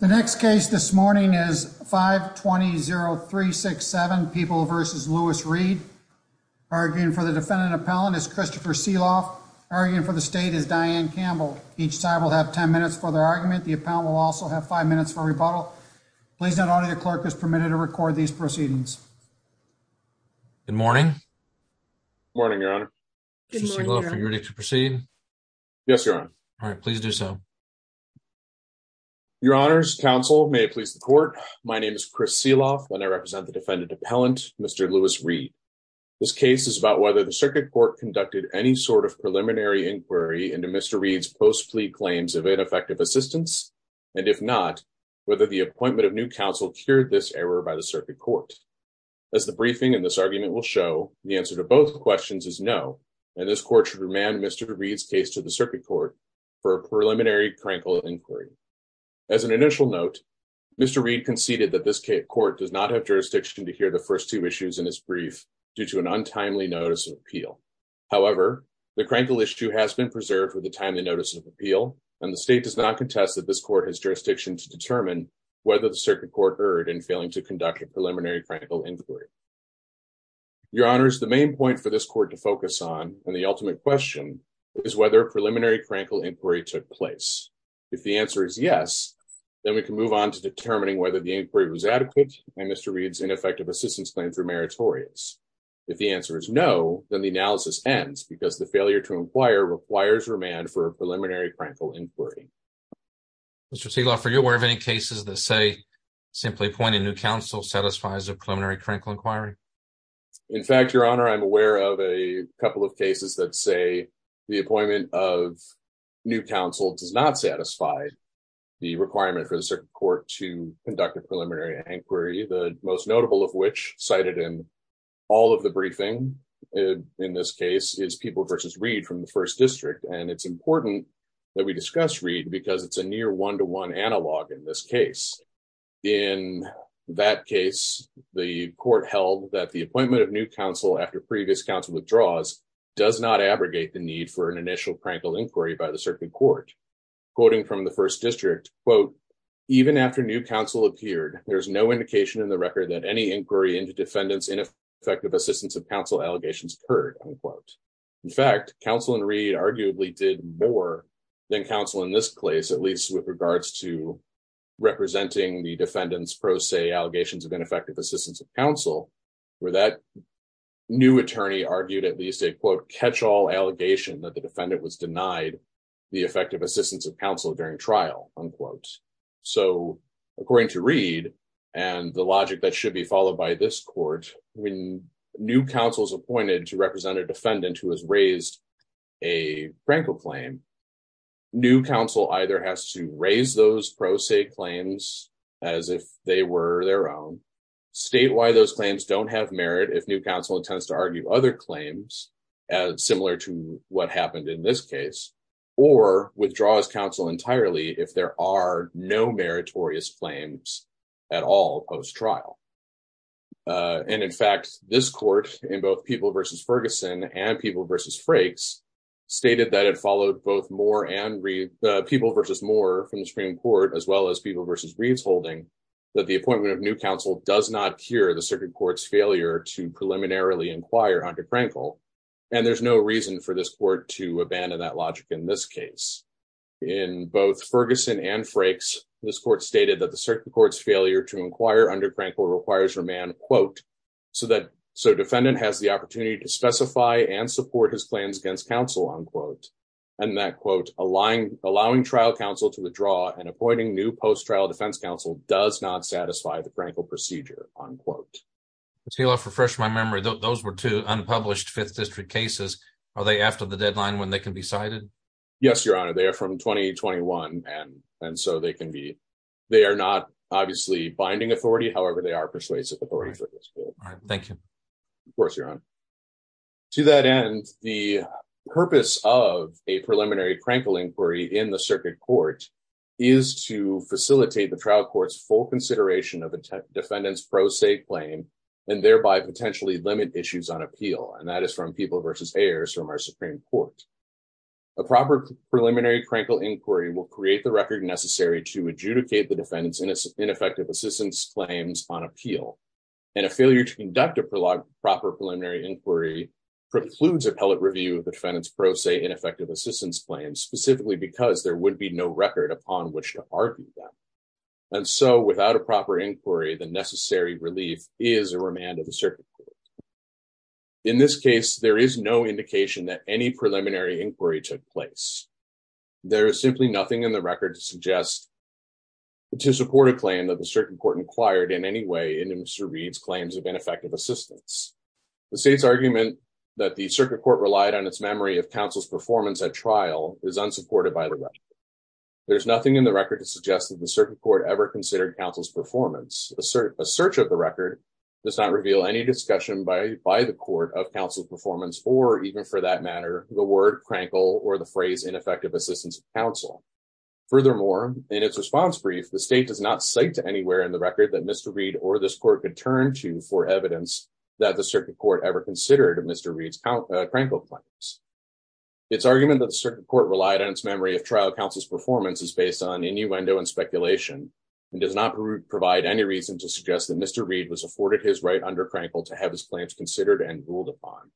The next case this morning is 5 20 0367 people versus Louis Reed arguing for the defendant appellant is Christopher seal off arguing for the state is Diane Campbell. Each side will have 10 minutes for their argument. The appellant will also have five minutes for rebuttal. Please. Not only the clerk is permitted to record these proceedings. Good morning. Morning, Your Honor. She's ready to proceed. Yes, Your Honor. All right, please do so. Okay, Your Honor's counsel may please the court. My name is Chris Seal off when I represent the defendant appellant, Mr Louis Reed. This case is about whether the circuit court conducted any sort of preliminary inquiry into Mr Reed's post plea claims of ineffective assistance. And if not, whether the appointment of new counsel cured this error by the circuit court as the briefing in this argument will show the answer to both questions is no. And this court should remand Mr Reed's case to the circuit court for a preliminary crankle inquiry. As an initial note, Mr Reed conceded that this court does not have jurisdiction to hear the first two issues in this brief due to an untimely notice of appeal. However, the crankle issue has been preserved with the timely notice of appeal, and the state does not contest that this court has jurisdiction to determine whether the circuit court heard and failing to conduct a preliminary crankle inquiry. Your Honor is the main point for this court to focus on. And the ultimate question is whether preliminary crankle inquiry took place. If the answer is yes, then we can move on to determining whether the inquiry was adequate and Mr Reed's ineffective assistance claim for meritorious. If the answer is no, then the analysis ends because the failure to inquire requires remand for a preliminary crankle inquiry. Mr Seal off. Are you aware of any cases that say simply pointing new council satisfies a preliminary critical inquiry? In fact, Your Honor, I'm aware of a couple of cases that say the appointment of new council does not satisfy the requirement for the circuit court to conduct a preliminary inquiry, the most notable of which cited in all of the briefing in this case is people versus read from the first district. And it's important that we discuss read because it's a near one to one analog in this case. In that case, the court held that the appointment of new council after previous council withdraws does not abrogate the need for an initial crankle inquiry by the circuit court. Quoting from the first district, quote, even after new council appeared, there's no indication in the record that any inquiry into defendants ineffective assistance of council allegations occurred. In fact, counsel and read arguably did more than counsel in this place, at least with regards to representing the defendants pro se allegations of ineffective assistance of counsel, where that new attorney argued at least a quote catch all allegation that the defendant was denied the effective assistance of counsel during trial, unquote. So according to read and the logic that should be followed by this court, when new councils appointed to represent a defendant who has raised a prank or claim, new council either has to raise those pro se claims as if they were their own statewide, those claims don't have merit. If new council intends to argue other claims as similar to what happened in this case, or withdraws counsel entirely if there are no meritorious claims at all post trial. And in fact, this court in both people versus Ferguson and people versus Frakes stated that it followed both more and read the people versus more from the Supreme Court as well as people versus reads holding that the appointment of new counsel does not cure the circuit courts failure to preliminarily inquire under Prankle. And there's no reason for this court to abandon that logic in this case. In both Ferguson and Frakes, this court stated that the circuit courts failure to inquire under Prankle requires your man quote, so that so defendant has the opportunity to specify and support his plans against counsel on quote, and that quote, allowing allowing trial counsel to withdraw and appointing new post trial defense counsel does not satisfy the Prankle procedure on quote. Let's heal off refresh my memory. Those were two unpublished Fifth District cases. Are they after the deadline when they can be cited? Yes, Your Honor, they're from 2021. And and so they can be. They are not obviously binding authority. However, they are persuasive authority for this. Thank you. Of course, Your Honor. To that end, the purpose of a preliminary Prankle inquiry in the circuit court is to facilitate the trial courts full consideration of a defendant's pro se claim, and thereby potentially limit issues on appeal. And that is from people versus heirs from our Supreme Court. A proper preliminary Prankle inquiry will create the record necessary to adjudicate the defendants in its ineffective assistance claims on appeal, and a failure to conduct a proper preliminary inquiry precludes appellate review of the defendants pro se ineffective assistance claims specifically because there would be no record upon which to argue that. And so without a proper inquiry, the necessary relief is a remand of the circuit. In this case, there is no indication that any preliminary inquiry took place. There is simply nothing in the record to suggest to support a claim that the circuit court inquired in any way into Mr. Reed's claims of ineffective assistance. The state's argument that the circuit court relied on its memory of counsel's performance at trial is unsupported by the record. There's nothing in the record to suggest that the circuit court ever considered counsel's performance. A search of the record does not reveal any discussion by the court of counsel's performance, or even for that matter, the word Prankle or the phrase ineffective assistance counsel. Furthermore, in its response brief, the state does not cite anywhere in the record that Mr. Reed or this court could turn to for evidence that the circuit court ever considered Mr. Reed's Prankle claims. Its argument that the circuit court relied on its memory of trial counsel's performance is based on innuendo and speculation, and does not provide any reason to suggest that Mr. Reed was afforded his right under Prankle to have his claims considered and ruled upon.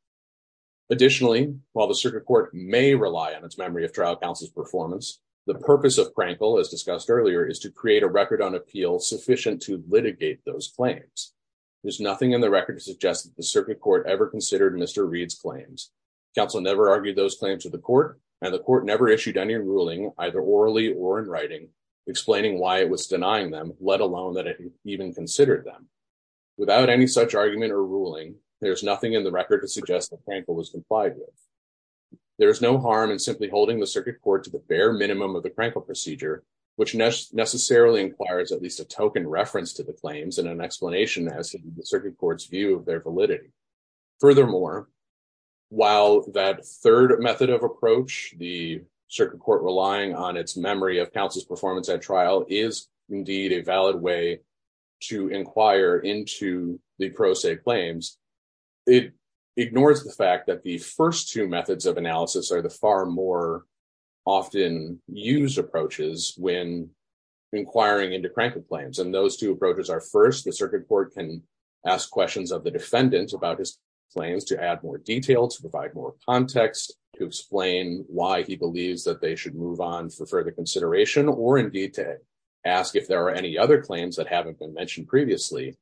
Additionally, while the circuit court may rely on its memory of trial counsel's performance, the purpose of Prankle, as discussed earlier, is to create a record on appeal sufficient to litigate those claims. There's nothing in the record to suggest that the circuit court ever considered Mr. Reed's claims. Counsel never argued those claims to the court, and the court never issued any ruling, either orally or in writing, explaining why it was denying them, let alone that it even considered them. Without any such argument or ruling, there's nothing in the record to suggest that Prankle was complied with. There is no harm in simply holding the circuit court to the bare minimum of the Prankle procedure, which necessarily requires at least a token reference to the claims and an explanation as to the circuit court's view of their validity. Furthermore, while that third method of approach, the circuit court relying on its memory of counsel's performance at trial, is indeed a valid way to inquire into the pro se claims, it ignores the fact that the first two methods of when inquiring into Prankle claims, and those two approaches are first, the circuit court can ask questions of the defendant about his claims to add more detail, to provide more context, to explain why he believes that they should move on for further consideration, or indeed to ask if there are any other claims that haven't been mentioned previously.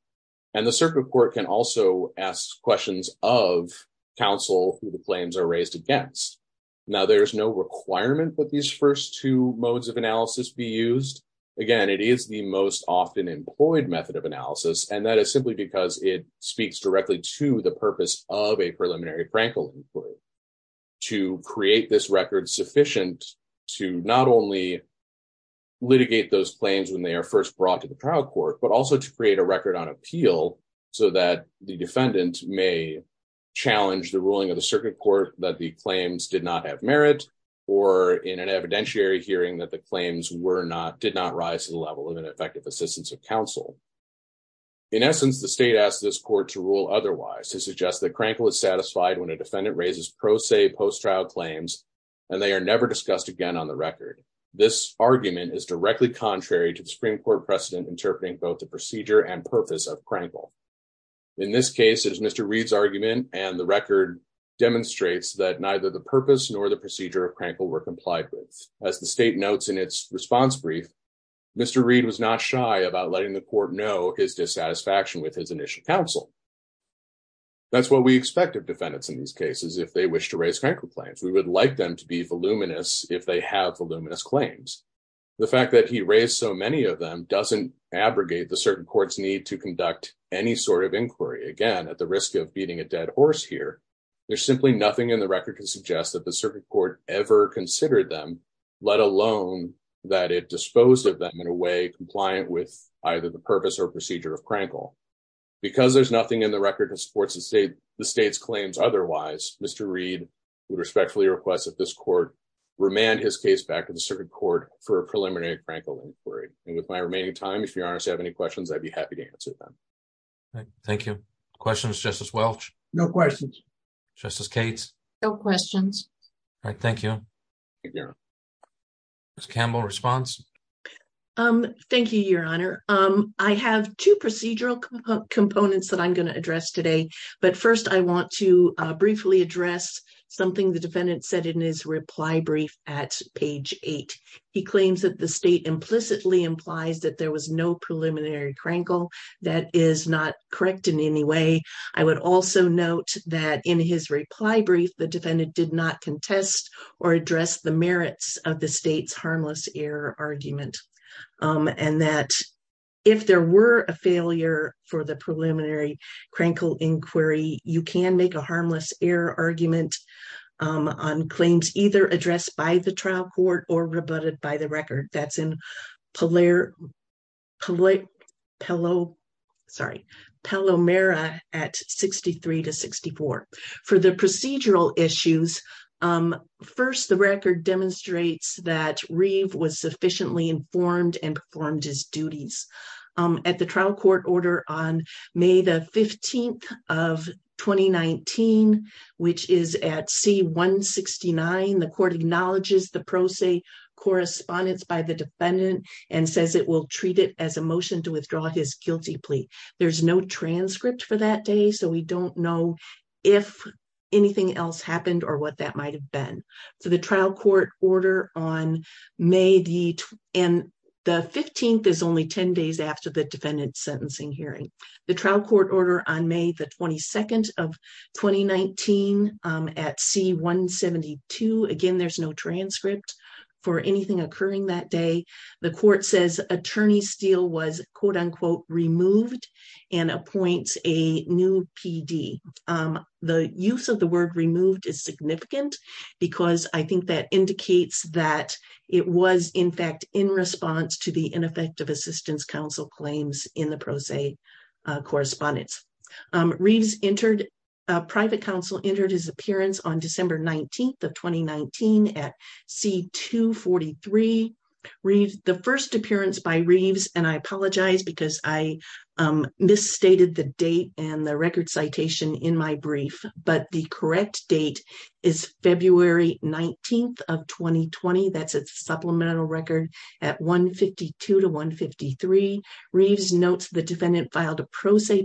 And the circuit court can also ask questions of counsel who the claims are raised against. Now, there's no requirement that these first two modes of analysis be used. Again, it is the most often employed method of analysis. And that is simply because it speaks directly to the purpose of a preliminary Prankle inquiry, to create this record sufficient to not only litigate those claims when they are first brought to the trial court, but also to create a record on appeal, so that the defendant may challenge the ruling of the evidentiary hearing that the claims were not did not rise to the level of an effective assistance of counsel. In essence, the state asked this court to rule otherwise to suggest that Prankle is satisfied when a defendant raises pro se post trial claims, and they are never discussed again on the record. This argument is directly contrary to the Supreme Court precedent interpreting both the procedure and purpose of Prankle. In this case, it is Mr. Reid's argument and the record demonstrates that neither the purpose nor the procedure of Prankle were as the state notes in its response brief, Mr. Reid was not shy about letting the court know his dissatisfaction with his initial counsel. That's what we expect of defendants in these cases, if they wish to raise Prankle claims, we would like them to be voluminous if they have voluminous claims. The fact that he raised so many of them doesn't abrogate the certain courts need to conduct any sort of inquiry. Again, at the risk of beating a dead horse here, there's simply nothing in the record to suggest that the circuit court ever considered them, let alone that it disposed of them in a way compliant with either the purpose or procedure of Prankle. Because there's nothing in the record to support the state's claims otherwise, Mr. Reid would respectfully request that this court remand his case back to the circuit court for a preliminary Prankle inquiry. And with my remaining time, if you honestly have any questions, I'd be happy to answer them. Thank you. Questions, Justice Welch? No questions. Justice Cates? No questions. Thank you. Ms. Campbell, response? Um, thank you, Your Honor. Um, I have two procedural components that I'm going to address today. But first, I want to briefly address something the defendant said in his reply brief at page eight. He claims that the state implicitly implies that there was no preliminary Prankle that is not correct in any way. I would also note that in his reply brief, the defendant did not contest or address the merits of the state's harmless error argument. Um, and that if there were a failure for the preliminary Prankle inquiry, you can make a harmless error argument on claims either addressed by the trial court or rebutted by the record. That's in Paler, Paler, Palo, sorry, Palomera at 63 to 64. For the procedural issues, um, first, the record demonstrates that Reid was sufficiently informed and performed his duties, um, at the trial court order on May the 15th of 2019, which is at C-169. The court acknowledges the pro se correspondence by the defendant and says it will treat it as a motion to withdraw his guilty plea. There's no transcript for that day, so we don't know if anything else happened or what that might've been. So the trial court order on May the, and the 15th is only 10 days after the defendant's sentencing hearing. The trial court order on May the 22nd of 2019, um, D-172. Again, there's no transcript for anything occurring that day. The court says attorney Steele was quote unquote removed and appoints a new PD. Um, the use of the word removed is significant because I think that indicates that it was in fact in response to the ineffective assistance counsel claims in the pro se, uh, correspondence. Um, Reid's entered, uh, private counsel entered his appearance on December 19th of 2019 at C-243. Reid's, the first appearance by Reid's, and I apologize because I, um, misstated the date and the record citation in my brief, but the correct date is February 19th of 2020. That's a supplemental record at 152 to 153. Reid's notes the defendant filed a pro se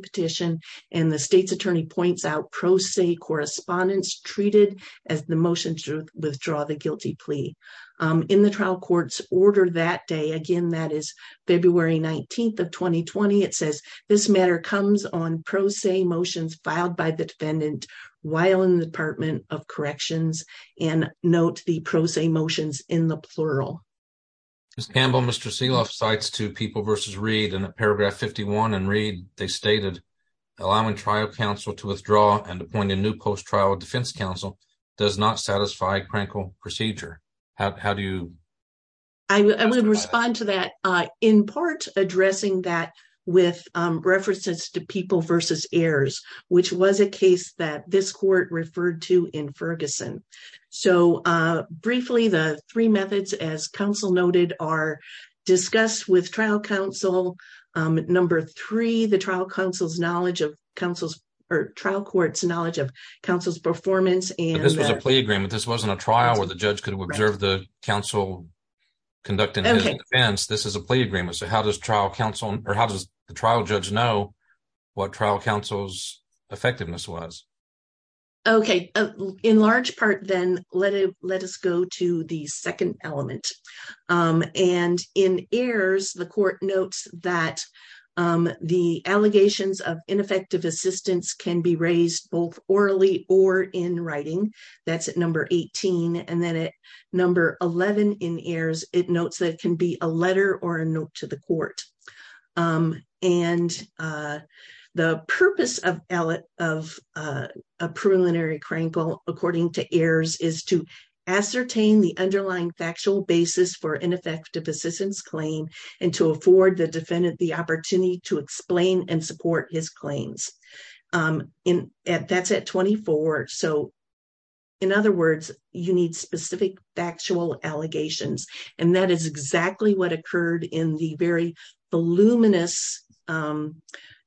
correspondence treated as the motion to withdraw the guilty plea. Um, in the trial court's order that day, again, that is February 19th of 2020. It says this matter comes on pro se motions filed by the defendant while in the department of corrections and note the pro se motions in the plural. Ms. Campbell, Mr. Seehoff cites two people versus Reid in a paragraph 51 and Reid, they stated allowing trial counsel to withdraw and appoint a new post trial defense counsel does not satisfy crankle procedure. How do you? I would respond to that, uh, in part addressing that with, um, references to people versus heirs, which was a case that this court referred to in Ferguson. So, uh, briefly the three methods as counsel noted are discussed with trial counsel. Um, number three, the trial counsel's knowledge of counsel's or trial court's knowledge of counsel's performance. And this was a plea agreement. This wasn't a trial where the judge could observe the counsel conducting his defense. This is a plea agreement. So how does trial counsel or how does the trial judge know what trial counsel's effectiveness was? Okay. In large part, then let it, let us go to the second element. Um, and in this court notes that, um, the allegations of ineffective assistance can be raised both orally or in writing that's at number 18. And then at number 11 in heirs, it notes that it can be a letter or a note to the court. Um, and, uh, the purpose of, of, uh, a preliminary crankle, according to heirs is to ascertain the forward, the defendant, the opportunity to explain and support his claims. Um, in that's at 24. So in other words, you need specific factual allegations. And that is exactly what occurred in the very voluminous, um,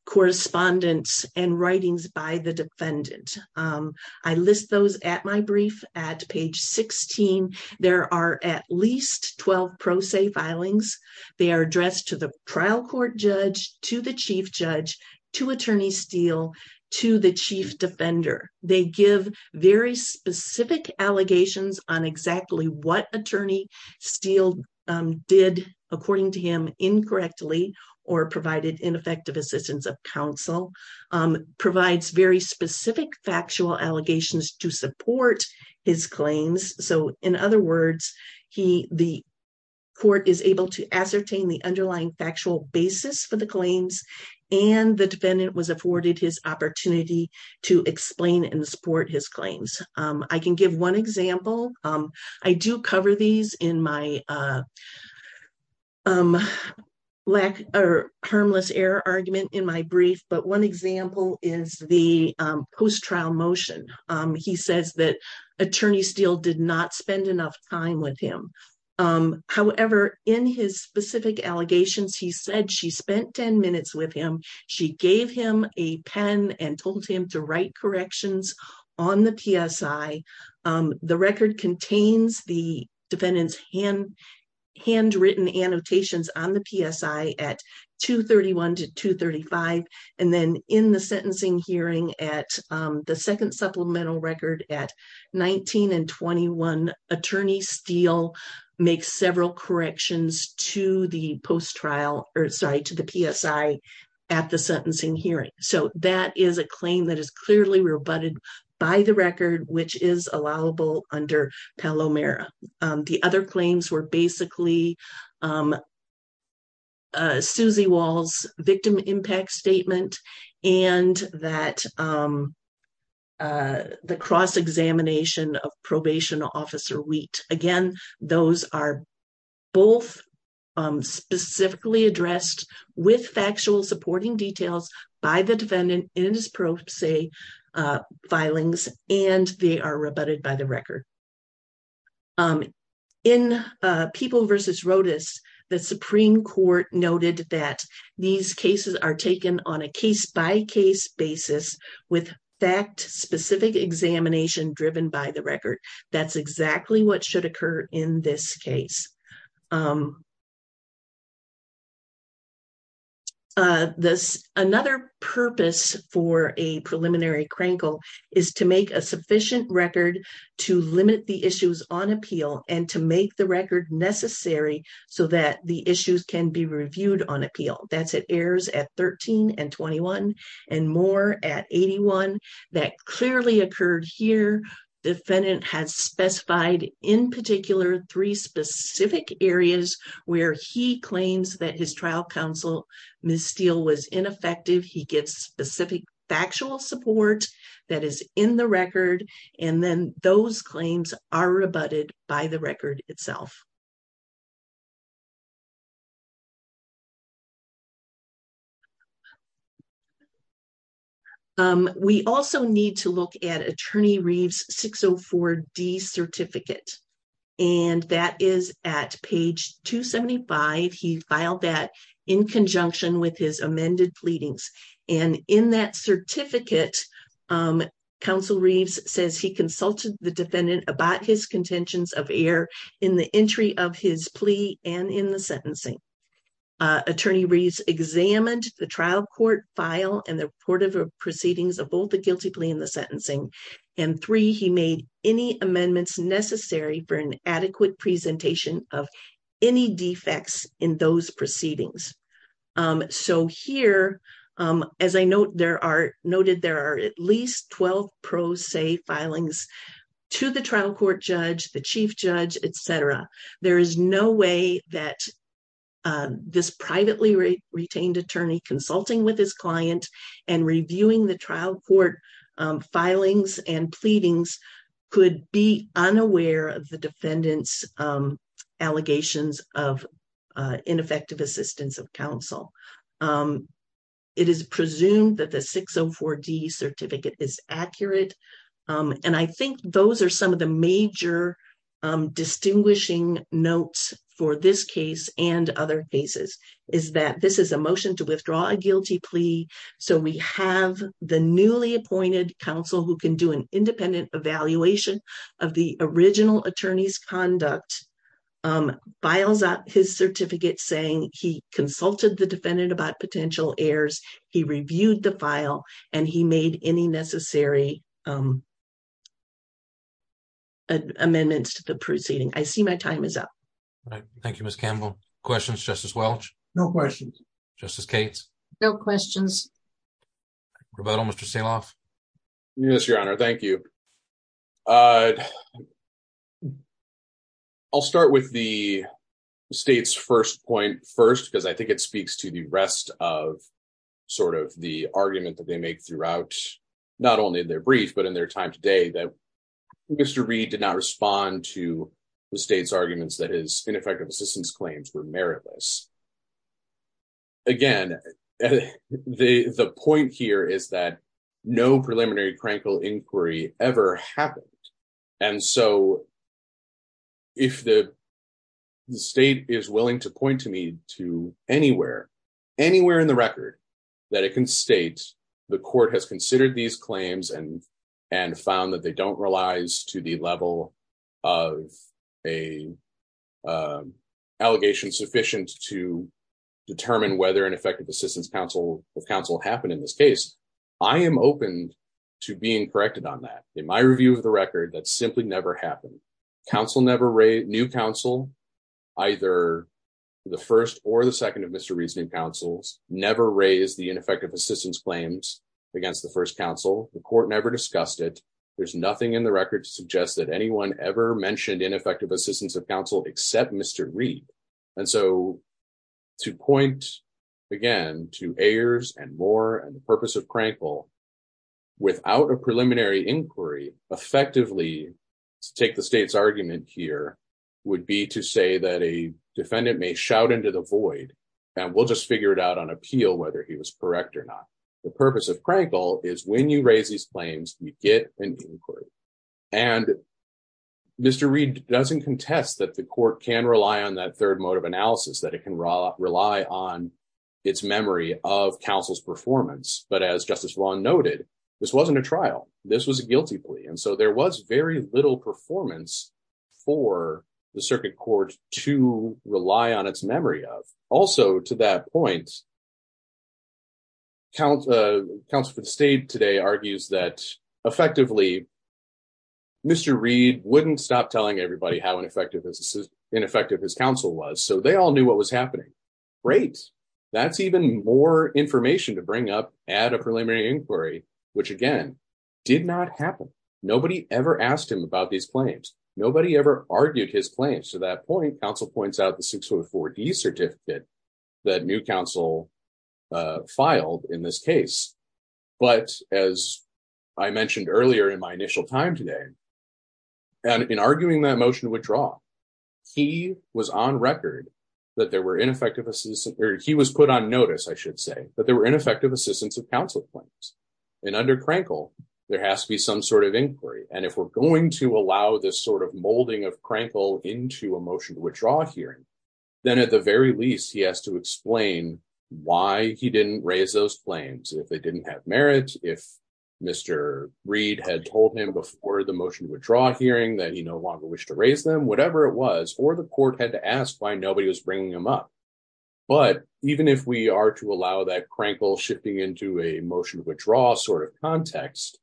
correspondence and writings by the defendant. Um, I list those at my brief at page 16, there are at least 12 pro se filings. They are addressed to the trial court judge, to the chief judge, to attorney steel, to the chief defender. They give very specific allegations on exactly what attorney steel, um, did according to him incorrectly or provided ineffective assistance of counsel, um, provides very he, the court is able to ascertain the underlying factual basis for the claims and the defendant was afforded his opportunity to explain and support his claims. Um, I can give one example. Um, I do cover these in my, uh, um, lack or harmless error argument in my brief, but one example is the, um, post-trial motion. Um, he says that attorney steel did not spend enough time with him. Um, however, in his specific allegations, he said she spent 10 minutes with him. She gave him a pen and told him to write corrections on the PSI. Um, the record contains the defendant's hand handwritten annotations on the PSI at two 31 to two 35. And then in the sentencing hearing at, um, the second supplemental record at 19 and 21 attorney steel makes several corrections to the post-trial or sorry, to the PSI at the sentencing hearing. So that is a claim that is clearly rebutted by the record, which is allowable under Palomero. Um, the other claims were basically, um, uh, Susie walls, victim impact statement, and that, um, uh, the cross examination of probation officer wheat, again, those are both, um, specifically addressed with factual supporting details by the defendant in his pro say, uh, filings, and they are rebutted by the record. Okay. Um, in, uh, people versus rotis, the Supreme court noted that these cases are taken on a case by case basis with fact specific examination driven by the record. That's exactly what should occur in this case. Um, uh, this another purpose for a preliminary crankle is to make a limit the issues on appeal and to make the record necessary so that the issues can be reviewed on appeal. That's it airs at 13 and 21 and more at 81. That clearly occurred here. Defendant has specified in particular three specific areas where he claims that his trial counsel, Ms. Steel was ineffective. He gets specific factual support that is in the record. And then those claims are rebutted by the record itself. Um, we also need to look at attorney Reeves 604 D certificate, and that is at page 275. He filed that in conjunction with his amended pleadings. And in that certificate, um, counsel Reeves says he consulted the defendant about his contentions of air in the entry of his plea. And in the sentencing, uh, attorney Reeves examined the trial court file and the report of proceedings of both the guilty plea and the sentencing. And three, he made any amendments necessary for an any defects in those proceedings. Um, so here, um, as I note, there are noted, there are at least 12 pros, say filings to the trial court judge, the chief judge, et cetera. There is no way that, uh, this privately retained attorney consulting with his client and reviewing the trial court, um, filings and pleadings could be aware of the defendant's, um, allegations of, uh, ineffective assistance of counsel. Um, it is presumed that the 604 D certificate is accurate. Um, and I think those are some of the major, um, distinguishing notes for this case and other cases is that this is a motion to withdraw a guilty plea. So we have the independent evaluation of the original attorney's conduct, um, files up his certificate saying he consulted the defendant about potential airs. He reviewed the file and he made any necessary, um, amendments to the proceeding. I see my time is up. Thank you, Miss Campbell. Questions. Justice Welch. No questions. Justice Kate's. No questions. We're about almost to sail off. Yes, Your Honor. Thank you. Uh, I'll start with the state's first point first because I think it speaks to the rest of sort of the argument that they make throughout not only their brief, but in their time today that Mr Reed did not respond to the state's arguments that his ineffective assistance claims were meritless. Again, the point here is that no preliminary crankle inquiry ever happened. And so if the state is willing to point to me to anywhere, anywhere in the record that it can state the court has considered these claims and and found that they um, allegations sufficient to determine whether an effective assistance counsel of counsel happened in this case. I am open to being corrected on that. In my review of the record, that simply never happened. Counsel never raised new counsel, either the first or the second of Mr Reasoning Council's never raised the ineffective assistance claims against the first council. The court never discussed it. There's nothing in the record to suggest that except Mr Reed. And so to point again to heirs and more and the purpose of crankle without a preliminary inquiry effectively to take the state's argument here would be to say that a defendant may shout into the void and we'll just figure it out on appeal whether he was correct or not. The purpose of crankle is when you raise these claims, you get an inquiry and Mr Reed doesn't contest that the court can rely on that third mode of analysis that it can rely on its memory of counsel's performance. But as Justice Long noted, this wasn't a trial. This was a guilty plea. And so there was very little performance for the circuit court to rely on its memory of. Also, to that point, Council for the State today argues that effectively Mr Reed wouldn't stop telling everybody how ineffective his counsel was. So they all knew what was happening. Great. That's even more information to bring up at a preliminary inquiry, which again did not happen. Nobody ever asked him about these claims. Nobody ever argued his claims. To that point, counsel points out the four d certificate that new council filed in this case. But as I mentioned earlier in my initial time today and in arguing that motion to withdraw, he was on record that there were ineffective assistant or he was put on notice. I should say that there were ineffective assistance of counsel claims and under Crankle, there has to be some sort of inquiry. And if we're going to allow this sort of molding of Crankle into a motion to withdraw hearing, then at the very least, he has to explain why he didn't raise those flames. If they didn't have merit, if Mr Reed had told him before the motion to withdraw hearing that he no longer wish to raise them, whatever it was, or the court had to ask why nobody was bringing him up. But even if we are to allow that Crankle shipping into a motion to withdraw sort of context,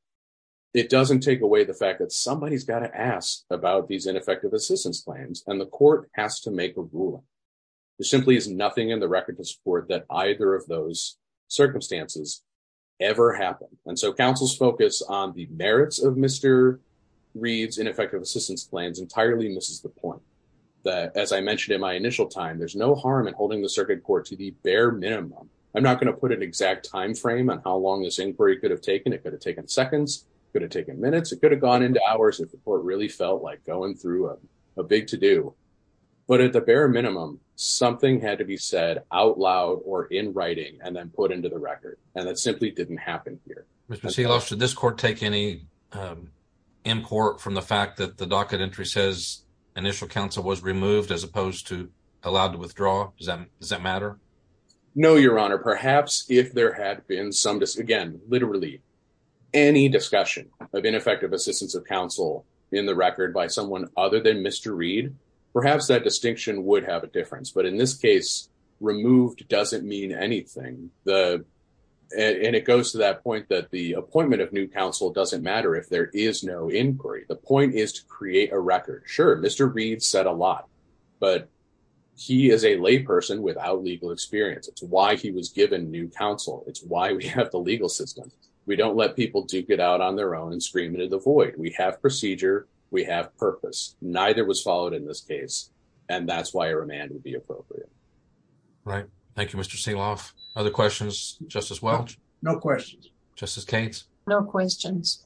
it doesn't take away the fact that somebody's got to ask about these ineffective assistance claims and the court has to make a ruling. There simply is nothing in the record to support that either of those circumstances ever happened. And so counsel's focus on the merits of Mr Reed's ineffective assistance plans entirely misses the point that, as I mentioned in my initial time, there's no harm in holding the circuit court to the bare minimum. I'm not gonna put an exact time frame on how long this inquiry could have taken. It could have taken seconds. It could have taken minutes. It could have gone into hours if the court really felt like going through a big to do. But at the bare minimum, something had to be said out loud or in writing and then put into the record. And that simply didn't happen here. Mr Seahawks, should this court take any, um, import from the fact that the docket entry says initial counsel was removed as opposed to allowed to withdraw? Does that does that any discussion of ineffective assistance of counsel in the record by someone other than Mr Reed? Perhaps that distinction would have a difference. But in this case, removed doesn't mean anything. The and it goes to that point that the appointment of new counsel doesn't matter if there is no inquiry. The point is to create a record. Sure, Mr Reed said a lot, but he is a lay person without legal experience. It's why he was given new counsel. It's why we have the legal system. We don't let people to get out on their own and scream into the void. We have procedure. We have purpose. Neither was followed in this case, and that's why a remand would be appropriate. Right. Thank you, Mr Seahawks. Other questions. Justice Welch. No questions. Justice Cates. No questions.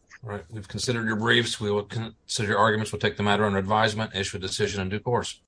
We've considered your briefs. We will consider arguments. We'll take the matter under advisement, issue a decision in due course.